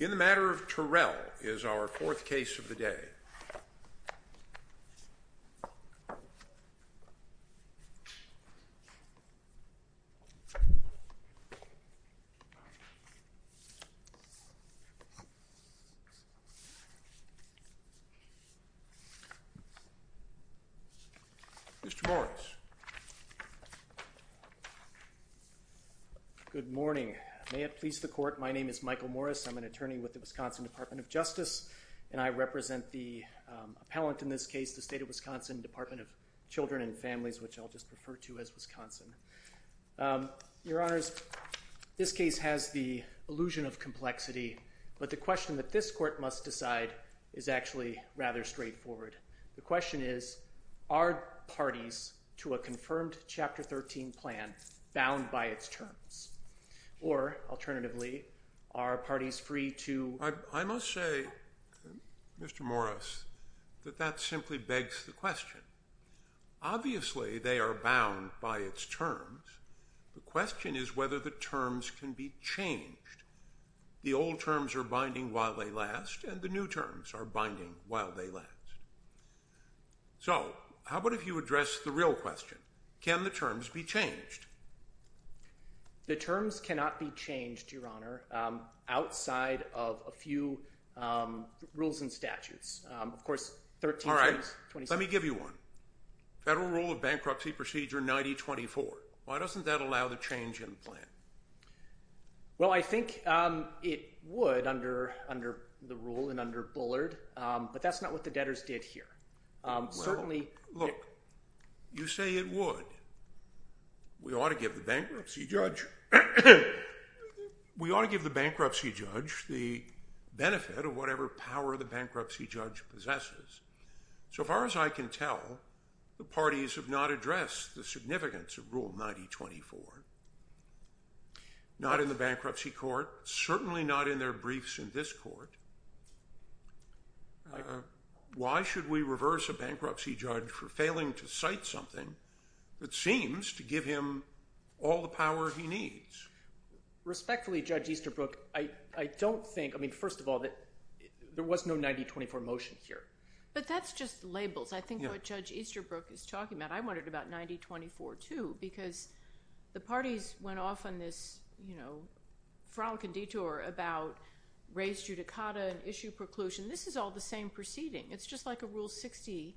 In the matter of Terrell is our fourth case of the day. Mr. Morris. Good morning. May it please the Court, my name is Michael Morris. I'm an attorney with the Wisconsin Department of Justice and I represent the appellant in this case, the State of Wisconsin Department of Children and Families, which I'll just refer to as Wisconsin. Your Honors, this case has the illusion of complexity, but the question that this Court must decide is actually rather straightforward. The question is, are parties to a confirmed Chapter 13 plan bound by its terms? Or, alternatively, are parties free to... I must say, Mr. Morris, that that simply begs the question. Obviously they are bound by its terms, the question is whether the terms can be changed. The old terms are binding while they last and the new terms are binding while they last. So how about if you address the real question, can the terms be changed? The terms cannot be changed, Your Honor, outside of a few rules and statutes. Of course, 13... All right. Let me give you one. Federal Rule of Bankruptcy Procedure 9024. Why doesn't that allow the change in plan? Well, I think it would under the rule and under Bullard, but that's not what the debtors did here. Well, look, you say it would. We ought to give the bankruptcy judge... We ought to give the bankruptcy judge the benefit of whatever power the bankruptcy judge possesses. So far as I can tell, the parties have not addressed the significance of Rule 9024. Not in the bankruptcy court, certainly not in their briefs in this court. Why should we reverse a bankruptcy judge for failing to cite something that seems to give him all the power he needs? Respectfully, Judge Easterbrook, I don't think... I mean, first of all, there was no 9024 motion here. But that's just labels. I think what Judge Easterbrook is talking about. I wondered about 9024 too because the parties went off on this, you know, front and detour about res judicata and issue preclusion. This is all the same proceeding. It's just like a Rule 60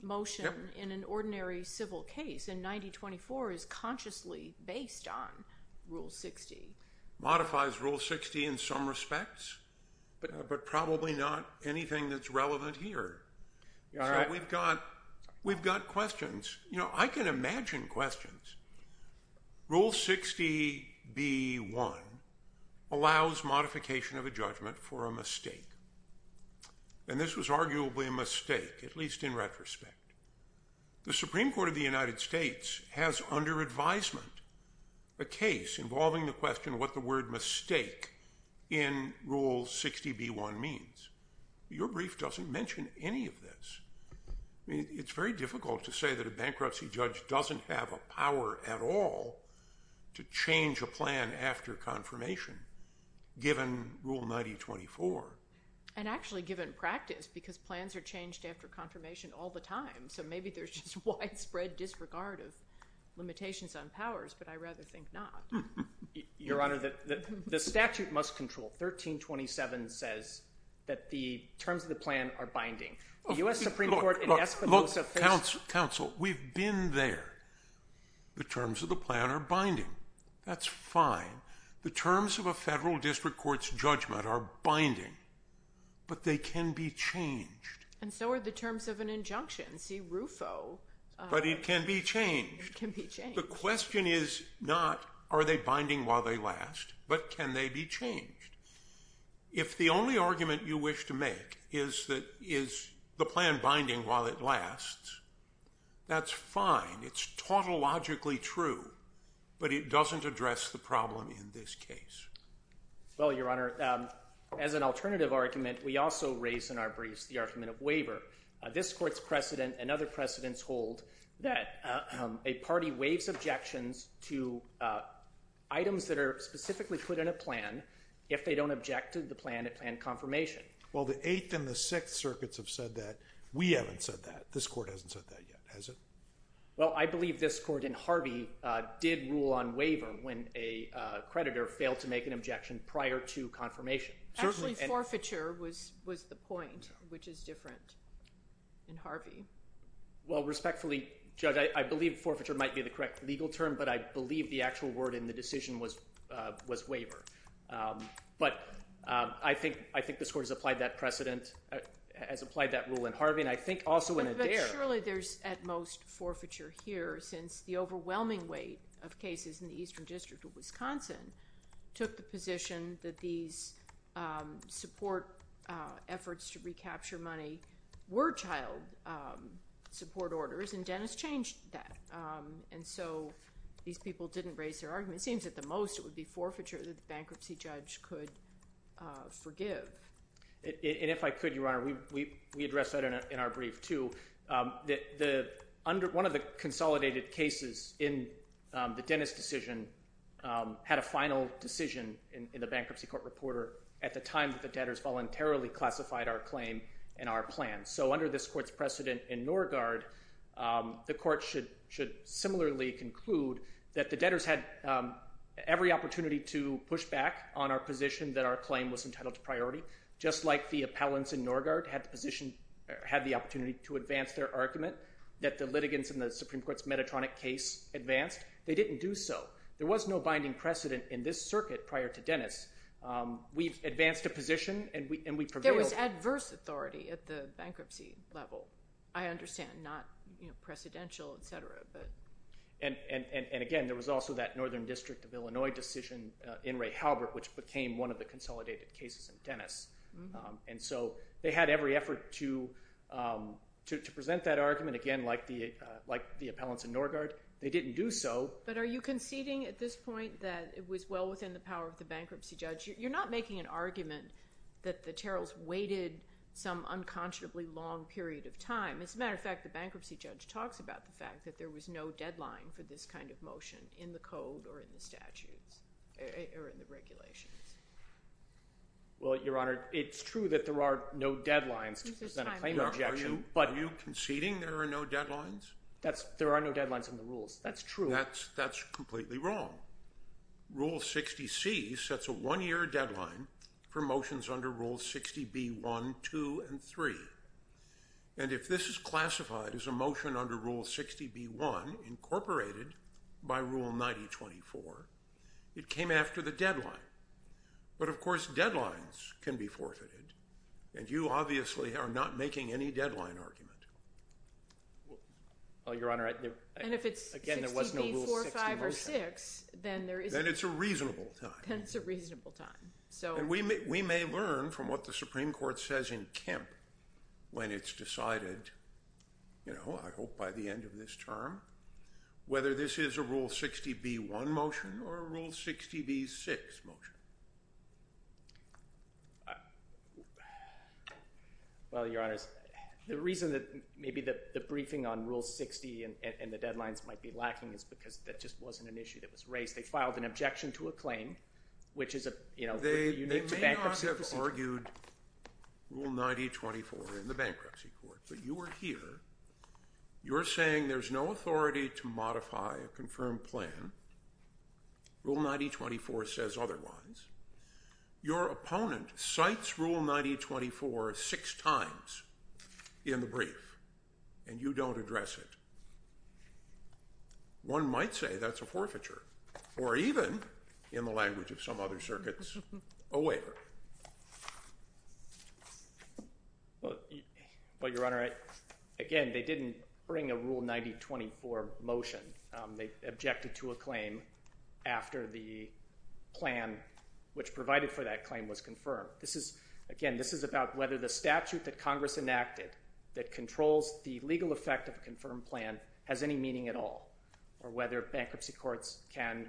motion in an ordinary civil case. And 9024 is consciously based on Rule 60. Modifies Rule 60 in some respects, but probably not anything that's relevant here. So we've got questions. You know, I can imagine questions. Rule 60B1 allows modification of a judgment for a mistake. And this was arguably a mistake, at least in retrospect. The Supreme Court of the United States has under advisement a case involving the question what the word mistake in Rule 60B1 means. Your brief doesn't mention any of this. I mean, it's very difficult to say that a bankruptcy judge doesn't have a power at all to change a plan after confirmation given Rule 9024. And actually given practice because plans are changed after confirmation all the time. So maybe there's just widespread disregard of limitations on powers, but I rather think not. Your Honor, the statute must control. Look, counsel, we've been there. The terms of the plan are binding. That's fine. The terms of a federal district court's judgment are binding, but they can be changed. And so are the terms of an injunction. See RUFO. But it can be changed. It can be changed. The question is not are they binding while they last, but can they be changed. If the only argument you wish to make is that is the plan binding while it lasts, that's fine. It's tautologically true, but it doesn't address the problem in this case. Well, Your Honor, as an alternative argument, we also raise in our briefs the argument of waiver. This court's precedent and other precedents hold that a party waives objections to items that are specifically put in a plan if they don't object to the plan at plan confirmation. Well, the Eighth and the Sixth Circuits have said that. We haven't said that. This court hasn't said that yet, has it? Well, I believe this court in Harvey did rule on waiver when a creditor failed to make an objection prior to confirmation. Actually, forfeiture was the point, which is different in Harvey. Well, respectfully, Judge, I believe forfeiture might be the correct legal term, but I believe the actual word in the decision was waiver. But I think this court has applied that precedent, has applied that rule in Harvey, and I think also in Adair. But surely there's at most forfeiture here since the overwhelming weight of cases in the Eastern District of Wisconsin took the position that these support efforts to recapture money were child support orders, and Dennis changed that. And so these people didn't raise their argument. It seems at the most it would be forfeiture that the bankruptcy judge could forgive. And if I could, Your Honor, we address that in our brief too. One of the consolidated cases in the Dennis decision had a final decision in the bankruptcy court reporter at the time that the debtors voluntarily classified our claim and our plan. So under this court's precedent in Norgaard, the court should similarly conclude that the debtors had every opportunity to push back on our position that our claim was entitled to priority, just like the appellants in Norgaard had the opportunity to advance their argument that the litigants in the Supreme Court's Medetronic case advanced. They didn't do so. There was no binding precedent in this circuit prior to Dennis. We advanced a position and we prevailed. There was adverse authority at the bankruptcy level, I understand, not precedential, et cetera. And again, there was also that Northern District of Illinois decision in Ray Halbert, which became one of the consolidated cases in Dennis. And so they had every effort to present that argument, again, like the appellants in Norgaard. They didn't do so. But are you conceding at this point that it was well within the power of the bankruptcy judge? You're not making an argument that the Terrells waited some unconscionably long period of time. As a matter of fact, the bankruptcy judge talks about the fact that there was no deadline for this kind of motion in the code or in the statutes or in the regulations. Well, Your Honor, it's true that there are no deadlines to present a claim objection. Are you conceding there are no deadlines? There are no deadlines in the rules. That's true. That's completely wrong. Rule 60C sets a one-year deadline for motions under Rules 60B1, 2, and 3. And if this is classified as a motion under Rule 60B1 incorporated by Rule 9024, it came after the deadline. But, of course, deadlines can be forfeited, and you obviously are not making any deadline argument. Well, Your Honor, again, there wasn't a Rule 60 motion. And if it's 60B45 or 6, then there isn't. Then it's a reasonable time. Then it's a reasonable time. And we may learn from what the Supreme Court says in Kemp when it's decided, you know, I hope by the end of this term, whether this is a Rule 60B1 motion or a Rule 60B6 motion. Well, Your Honors, the reason that maybe the briefing on Rule 60 and the deadlines might be lacking is because that just wasn't an issue that was raised. They filed an objection to a claim, which is a unique bankruptcy procedure. They may not have argued Rule 9024 in the bankruptcy court, but you were here. You're saying there's no authority to modify a confirmed plan. Rule 9024 says otherwise. Your opponent cites Rule 9024 six times in the brief, and you don't address it. One might say that's a forfeiture or even, in the language of some other circuits, a waiver. Well, Your Honor, again, they didn't bring a Rule 9024 motion. They objected to a claim after the plan which provided for that claim was confirmed. Again, this is about whether the statute that Congress enacted that controls the legal effect of a confirmed plan has any meaning at all, or whether bankruptcy courts can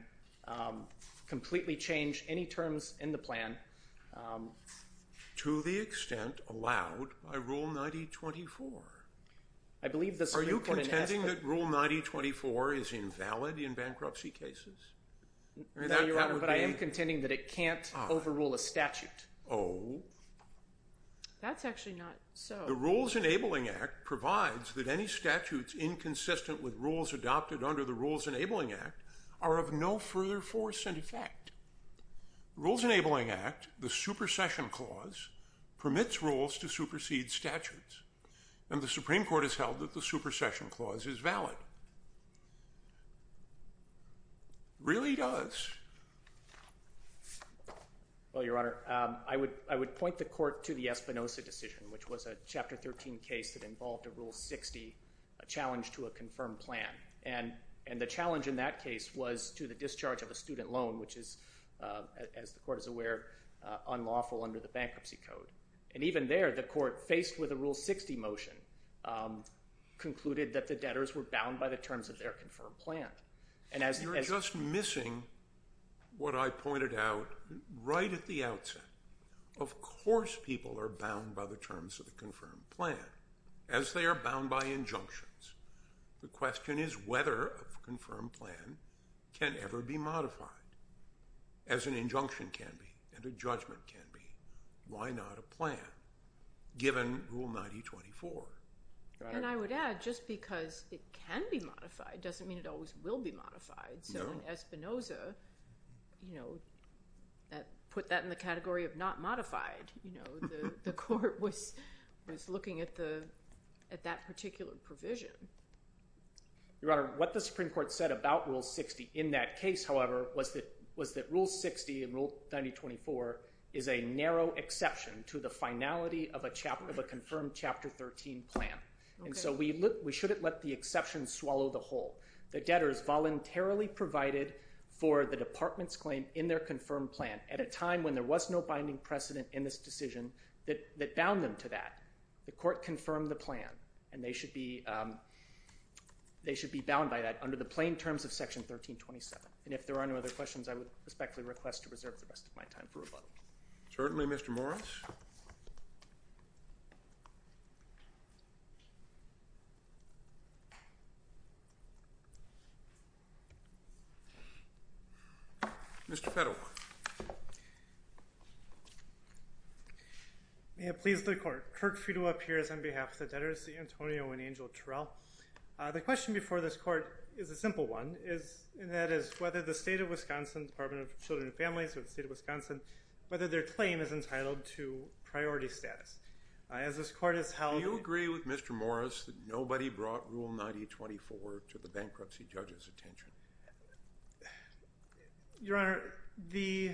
completely change any terms in the plan. To the extent allowed by Rule 9024. Are you contending that Rule 9024 is invalid in bankruptcy cases? No, Your Honor, but I am contending that it can't overrule a statute. Oh. That's actually not so. The Rules Enabling Act provides that any statutes inconsistent with rules adopted under the Rules Enabling Act are of no further force and effect. Rules Enabling Act, the supersession clause, permits rules to supersede statutes, and the Supreme Court has held that the supersession clause is valid. It really does. Well, Your Honor, I would point the court to the Espinosa decision, which was a Chapter 13 case that involved a Rule 60 challenge to a confirmed plan. And the challenge in that case was to the discharge of a student loan, which is, as the court is aware, unlawful under the Bankruptcy Code. And even there, the court, faced with a Rule 60 motion, concluded that the debtors were bound by the terms of their confirmed plan. You're just missing what I pointed out right at the outset. Of course people are bound by the terms of the confirmed plan, as they are bound by injunctions. The question is whether a confirmed plan can ever be modified, as an injunction can be and a judgment can be. Why not a plan, given Rule 9024? And I would add, just because it can be modified doesn't mean it always will be modified. So Espinosa put that in the category of not modified. The court was looking at that particular provision. Your Honor, what the Supreme Court said about Rule 60 in that case, however, was that Rule 60 and Rule 9024 is a narrow exception to the finality of a confirmed Chapter 13 plan. And so we shouldn't let the exception swallow the whole. The debtors voluntarily provided for the department's claim in their confirmed plan at a time when there was no binding precedent in this decision that bound them to that. The court confirmed the plan, and they should be bound by that under the plain terms of Section 1327. And if there are no other questions, I would respectfully request to reserve the rest of my time for rebuttal. Certainly, Mr. Morris. Mr. Federal. May it please the court. Kirk Fiedler appears on behalf of the debtors, Antonio and Angel Terrell. The question before this court is a simple one, and that is whether the State of Wisconsin, Department of Children and Families of the State of Wisconsin, whether their claim is entitled to priority status. As this court has held – Do you agree with Mr. Morris that nobody brought Rule 9024 to the bankruptcy judge's attention? Your Honor, the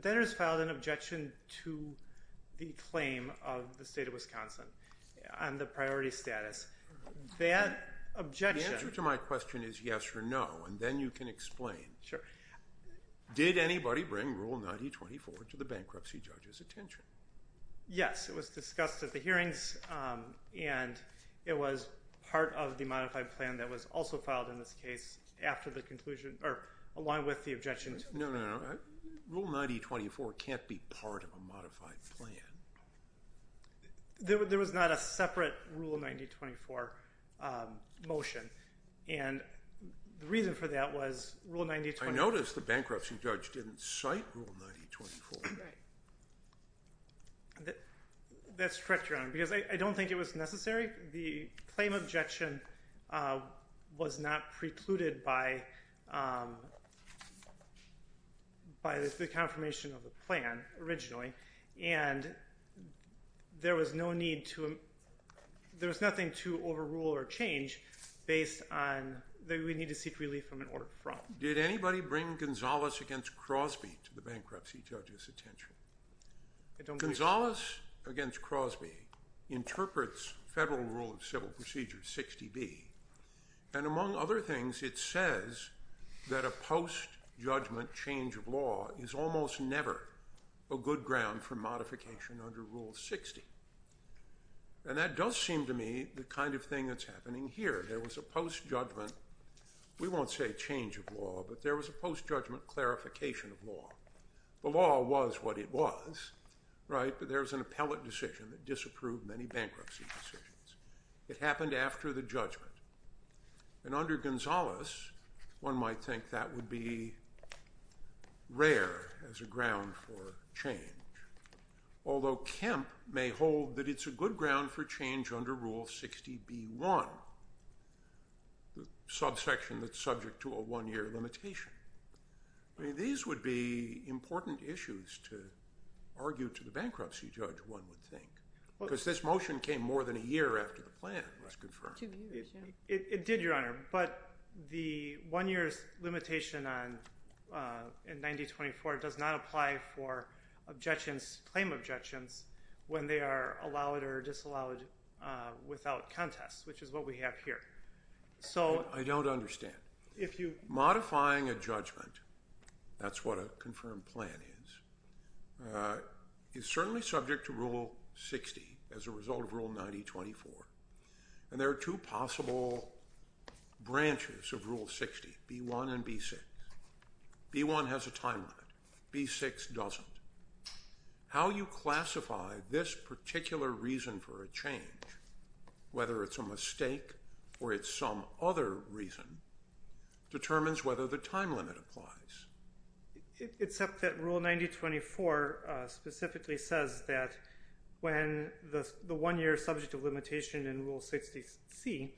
debtors filed an objection to the claim of the State of Wisconsin on the priority status. That objection – The answer to my question is yes or no, and then you can explain. Sure. Did anybody bring Rule 9024 to the bankruptcy judge's attention? Yes, it was discussed at the hearings, and it was part of the modified plan that was also filed in this case after the conclusion – or along with the objection. No, no, no. Rule 9024 can't be part of a modified plan. There was not a separate Rule 9024 motion, and the reason for that was Rule 9024 – That's correct, Your Honor, because I don't think it was necessary. The claim of objection was not precluded by the confirmation of the plan originally, and there was no need to – there was nothing to overrule or change based on that we need to seek relief from an order from. Did anybody bring Gonzalez against Crosby to the bankruptcy judge's attention? Gonzalez against Crosby interprets Federal Rule of Civil Procedure 60B, and among other things, it says that a post-judgment change of law is almost never a good ground for modification under Rule 60. And that does seem to me the kind of thing that's happening here. There was a post-judgment – we won't say change of law, but there was a post-judgment clarification of law. The law was what it was, right? But there was an appellate decision that disapproved many bankruptcy decisions. It happened after the judgment. And under Gonzalez, one might think that would be rare as a ground for change, although Kemp may hold that it's a good ground for change under Rule 60B1, the subsection that's subject to a one-year limitation. I mean, these would be important issues to argue to the bankruptcy judge, one would think, because this motion came more than a year after the plan was confirmed. It did, Your Honor, but the one-year limitation in 9024 does not apply for objections, claim objections, when they are allowed or disallowed without contest, which is what we have here. I don't understand. If you – modifying a judgment, that's what a confirmed plan is, is certainly subject to Rule 60 as a result of Rule 9024. And there are two possible branches of Rule 60, B1 and B6. B1 has a time limit. B6 doesn't. How you classify this particular reason for a change, whether it's a mistake or it's some other reason, determines whether the time limit applies. Except that Rule 9024 specifically says that when the one-year subject of limitation in Rule 60C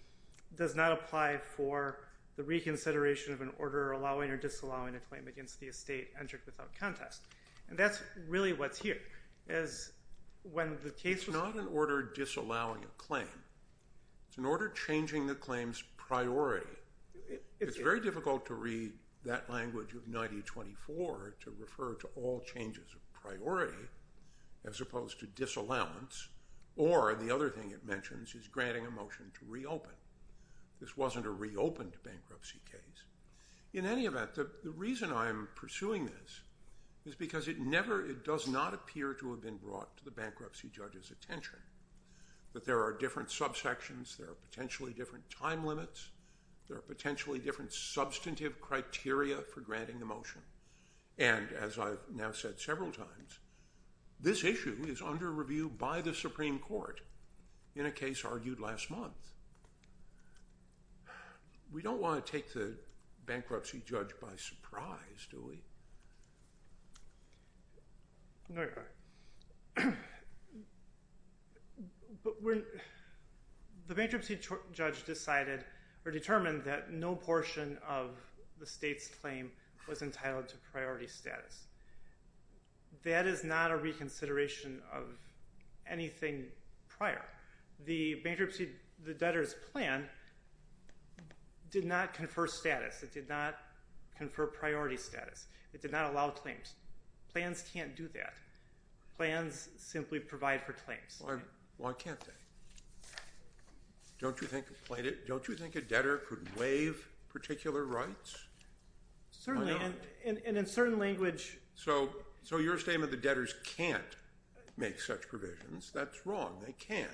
does not apply for the reconsideration of an order allowing or disallowing a claim against the estate entered without contest. And that's really what's here. It's not an order disallowing a claim. It's an order changing the claim's priority. It's very difficult to read that language of 9024 to refer to all changes of priority as opposed to disallowance. Or the other thing it mentions is granting a motion to reopen. This wasn't a reopened bankruptcy case. In any event, the reason I'm pursuing this is because it does not appear to have been brought to the bankruptcy judge's attention that there are different subsections. There are potentially different time limits. There are potentially different substantive criteria for granting a motion. And as I've now said several times, this issue is under review by the Supreme Court in a case argued last month. We don't want to take the bankruptcy judge by surprise, do we? The bankruptcy judge decided or determined that no portion of the state's claim was entitled to priority status. That is not a reconsideration of anything prior. The bankruptcy debtor's plan did not confer status. It did not confer priority status. It did not allow claims. Plans can't do that. Plans simply provide for claims. Why can't they? Don't you think a debtor could waive particular rights? Certainly. And in certain language. So your statement that debtors can't make such provisions, that's wrong. They can.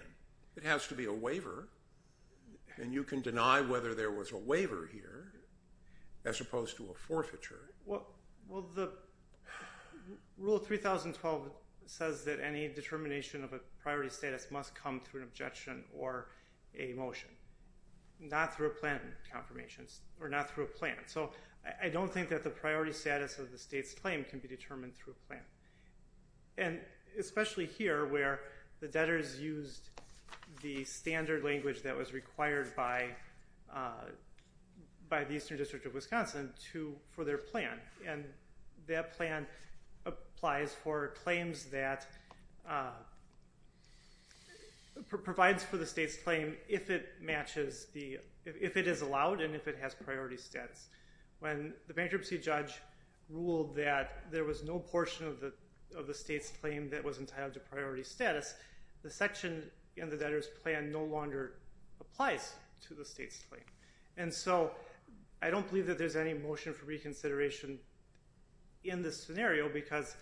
It has to be a waiver. And you can deny whether there was a waiver here as opposed to a forfeiture. Well, the Rule 3012 says that any determination of a priority status must come through an objection or a motion. Not through a plan confirmation or not through a plan. So I don't think that the priority status of the state's claim can be determined through a plan. And especially here where the debtors used the standard language that was required by the Eastern District of Wisconsin for their plan. And that plan applies for claims that provides for the state's claim if it is allowed and if it has priority status. When the bankruptcy judge ruled that there was no portion of the state's claim that was entitled to priority status, the section in the debtor's plan no longer applies to the state's claim. And so I don't believe that there's any motion for reconsideration in this scenario because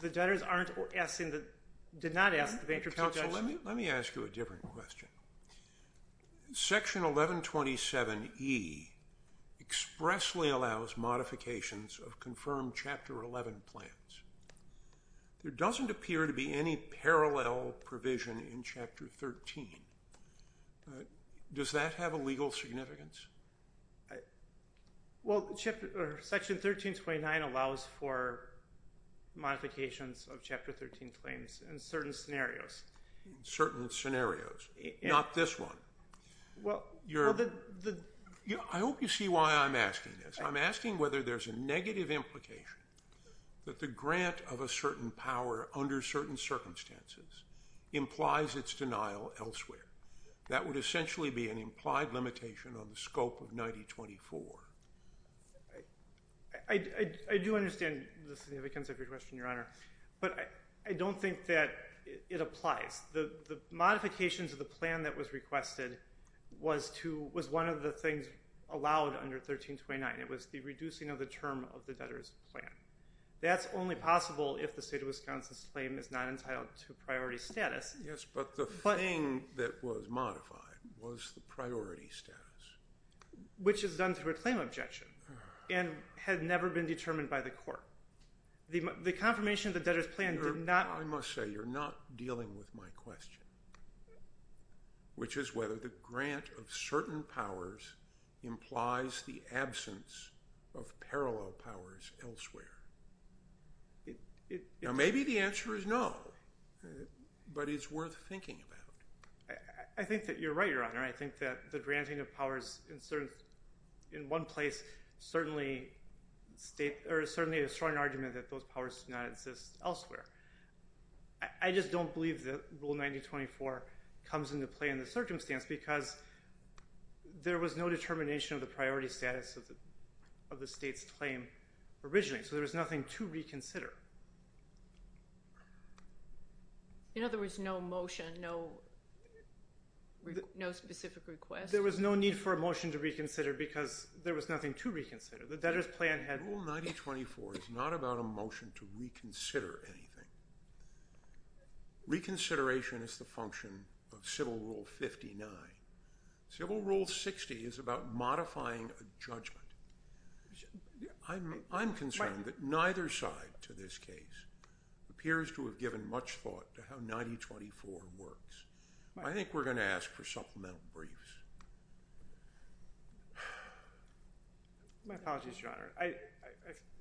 the debtors did not ask the bankruptcy judge. Counsel, let me ask you a different question. Section 1127E expressly allows modifications of confirmed Chapter 11 plans. There doesn't appear to be any parallel provision in Chapter 13. Does that have a legal significance? Well, Section 1329 allows for modifications of Chapter 13 claims in certain scenarios. In certain scenarios, not this one. I hope you see why I'm asking this. I'm asking whether there's a negative implication that the grant of a certain power under certain circumstances implies its denial elsewhere. That would essentially be an implied limitation on the scope of 9024. I do understand the significance of your question, Your Honor. But I don't think that it applies. The modifications of the plan that was requested was one of the things allowed under 1329. It was the reducing of the term of the debtor's plan. That's only possible if the state of Wisconsin's claim is not entitled to priority status. Yes, but the thing that was modified was the priority status. Which is done through a claim objection and had never been determined by the court. The confirmation of the debtor's plan did not— I must say you're not dealing with my question, which is whether the grant of certain powers implies the absence of parallel powers elsewhere. Now, maybe the answer is no, but it's worth thinking about. I think that you're right, Your Honor. I think that the granting of powers in one place certainly is a strong argument that those powers do not exist elsewhere. I just don't believe that Rule 9024 comes into play in the circumstance because there was no determination of the priority status of the state's claim originally. So there was nothing to reconsider. In other words, no motion, no specific request? There was no need for a motion to reconsider because there was nothing to reconsider. The debtor's plan had— Rule 9024 is not about a motion to reconsider anything. Reconsideration is the function of Civil Rule 59. Civil Rule 60 is about modifying a judgment. I'm concerned that neither side to this case appears to have given much thought to how 9024 works. I think we're going to ask for supplemental briefs. My apologies, Your Honor. I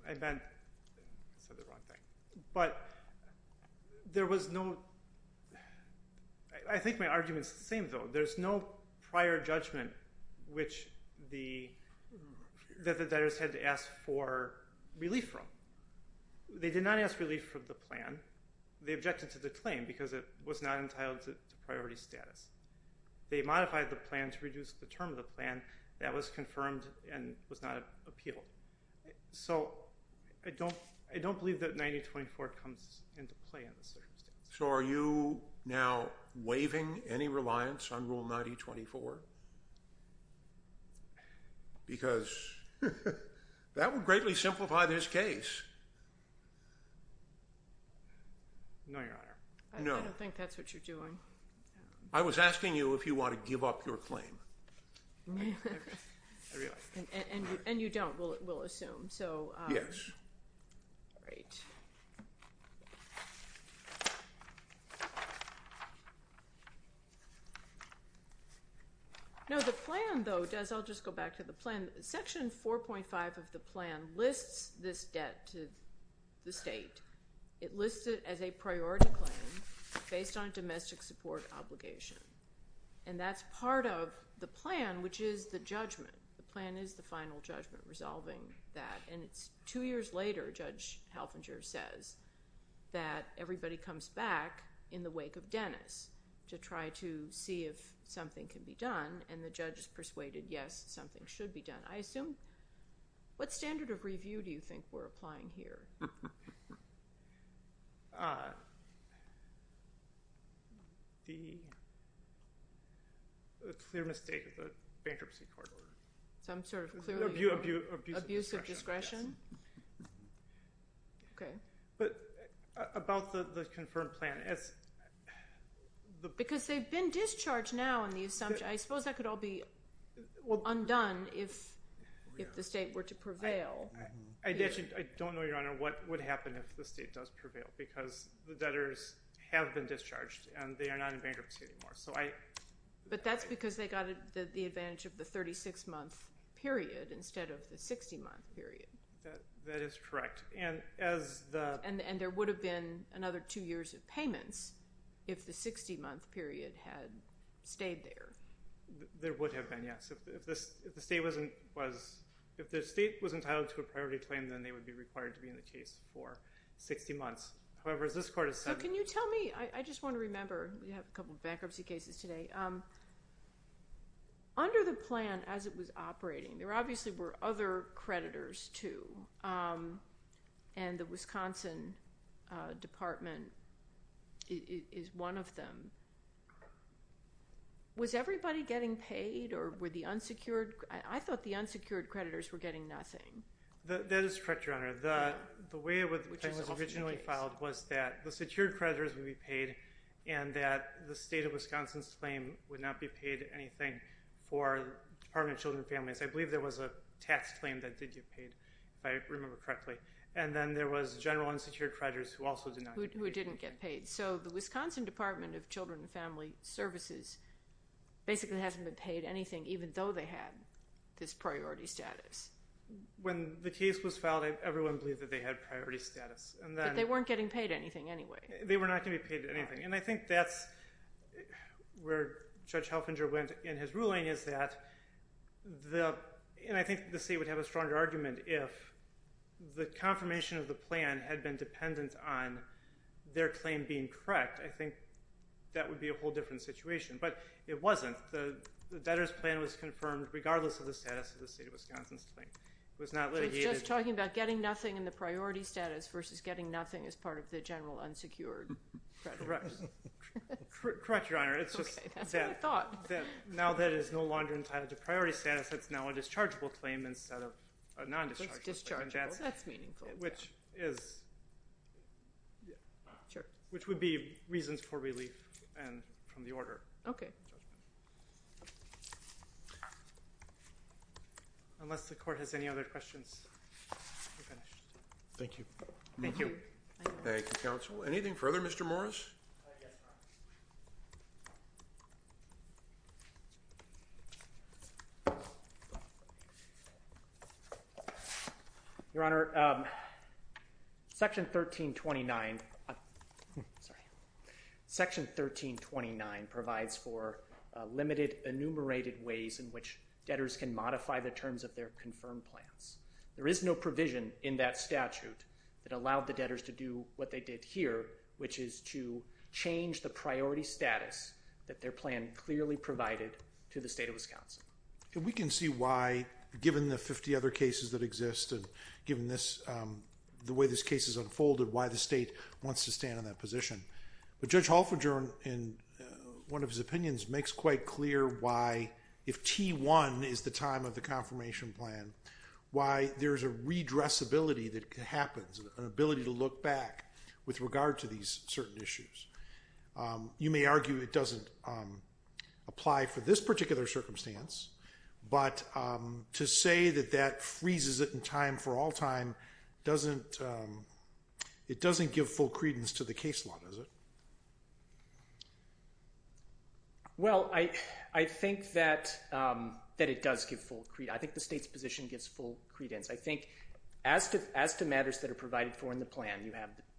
meant—I said the wrong thing. But there was no—I think my argument's the same, though. There's no prior judgment that the debtors had to ask for relief from. They did not ask relief from the plan. They objected to the claim because it was not entitled to priority status. They modified the plan to reduce the term of the plan. That was confirmed and was not appealed. So I don't believe that 9024 comes into play in this circumstance. So are you now waiving any reliance on Rule 9024? Because that would greatly simplify this case. No, Your Honor. I don't think that's what you're doing. I was asking you if you want to give up your claim. I realize that. And you don't, we'll assume. Yes. Great. No, the plan, though, does—I'll just go back to the plan. Section 4.5 of the plan lists this debt to the state. It lists it as a priority claim based on a domestic support obligation. And that's part of the plan, which is the judgment. The plan is the final judgment resolving that. And it's two years later, Judge Halvinger says, that everybody comes back in the wake of Dennis to try to see if something can be done. And the judge is persuaded, yes, something should be done. I assume—what standard of review do you think we're applying here? The clear mistake of the bankruptcy court order. Some sort of clear— Abuse of discretion. Abuse of discretion? Yes. Okay. But about the confirmed plan, as the— Because they've been discharged now in the assumption. I suppose that could all be undone if the state were to prevail. I don't know, Your Honor, what would happen if the state does prevail because the debtors have been discharged, and they are not in bankruptcy anymore. So I— But that's because they got the advantage of the 36-month period instead of the 60-month period. That is correct. And as the— And there would have been another two years of payments if the 60-month period had stayed there. There would have been, yes. If the state was entitled to a priority claim, then they would be required to be in the case for 60 months. However, as this court has said— So can you tell me—I just want to remember. We have a couple of bankruptcy cases today. Under the plan, as it was operating, there obviously were other creditors too, and the Wisconsin Department is one of them. Was everybody getting paid, or were the unsecured—I thought the unsecured creditors were getting nothing. That is correct, Your Honor. The way it was originally filed was that the secured creditors would be paid and that the state of Wisconsin's claim would not be paid anything for Department of Children and Families. I believe there was a tax claim that did get paid, if I remember correctly. And then there was general unsecured creditors who also did not get paid. Who didn't get paid. So the Wisconsin Department of Children and Family Services basically hasn't been paid anything, even though they had this priority status. When the case was filed, everyone believed that they had priority status. But they weren't getting paid anything anyway. They were not going to be paid anything. And I think that's where Judge Helfinger went in his ruling, is that— and I think the state would have a stronger argument if the confirmation of the plan had been dependent on their claim being correct. I think that would be a whole different situation. But it wasn't. The debtor's plan was confirmed regardless of the status of the state of Wisconsin's claim. It was not litigated— So he's just talking about getting nothing in the priority status versus getting nothing as part of the general unsecured creditors. Correct. Correct, Your Honor. It's just that— Okay, that's what I thought. Now that it is no longer entitled to priority status, it's now a dischargeable claim instead of a nondischargeable claim. Dischargeable. That's meaningful. Which is— Sure. Which would be reasons for relief from the order. Okay. Unless the Court has any other questions, we're finished. Thank you. Thank you. Thank you, Counsel. Anything further, Mr. Morris? Yes, Your Honor. Your Honor, Section 1329 provides for limited enumerated ways in which debtors can modify the terms of their confirmed plans. There is no provision in that statute that allowed the debtors to do what they did here, which is to change the priority status that their plan clearly provided to the state of Wisconsin. We can see why, given the 50 other cases that exist and given the way this case has unfolded, why the state wants to stand on that position. But Judge Halford, in one of his opinions, makes quite clear why, if T1 is the time of the confirmation plan, why there's a redressability that happens, an ability to look back with regard to these certain issues. You may argue it doesn't apply for this particular circumstance, but to say that that freezes it in time for all time doesn't give full credence to the case law, does it? Well, I think that it does give full credence. I think the state's position gives full credence. I think as to matters that are provided for in the plan,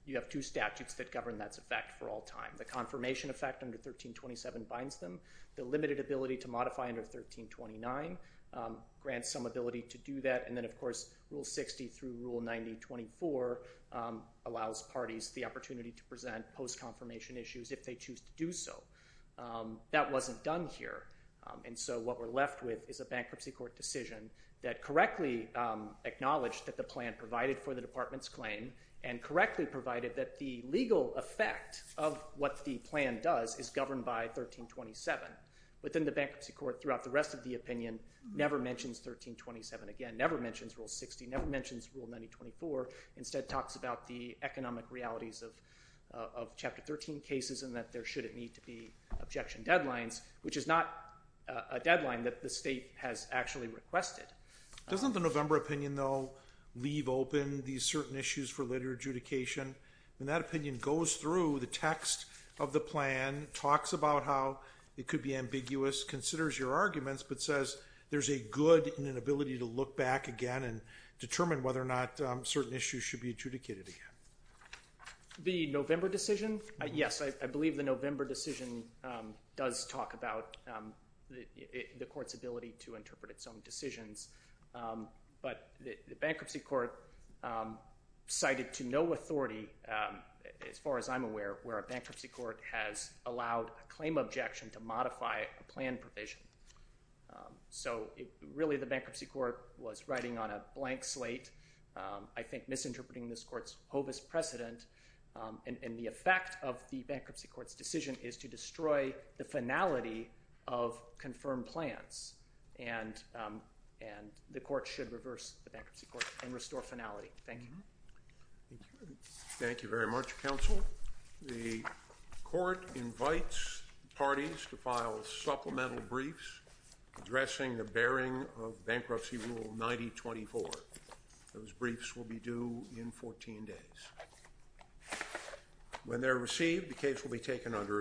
you have two statutes that govern that effect for all time. The confirmation effect under 1327 binds them. The limited ability to modify under 1329 grants some ability to do that. And then, of course, Rule 60 through Rule 9024 allows parties the opportunity to present post-confirmation issues if they choose to do so. That wasn't done here, and so what we're left with is a bankruptcy court decision that correctly acknowledged that the plan provided for the department's claim and correctly provided that the legal effect of what the plan does is governed by 1327. But then the bankruptcy court, throughout the rest of the opinion, never mentions 1327 again, never mentions Rule 60, never mentions Rule 9024, instead talks about the economic realities of Chapter 13 cases and that there shouldn't need to be objection deadlines, which is not a deadline that the state has actually requested. Doesn't the November opinion, though, leave open these certain issues for later adjudication? When that opinion goes through, the text of the plan talks about how it could be ambiguous, considers your arguments, but says there's a good and an ability to look back again and determine whether or not certain issues should be adjudicated again. The November decision? Yes, I believe the November decision does talk about the court's ability to interpret its own decisions. But the bankruptcy court cited to no authority, as far as I'm aware, where a bankruptcy court has allowed a claim objection to modify a plan provision. So really the bankruptcy court was writing on a blank slate, I think misinterpreting this court's hobus precedent, and the effect of the bankruptcy court's decision is to destroy the finality of confirmed plans, and the court should reverse the bankruptcy court and restore finality. Thank you. Thank you very much, counsel. The court invites parties to file supplemental briefs addressing the bearing of bankruptcy rule 9024. Those briefs will be due in 14 days. When they're received, the case will be taken under advisement.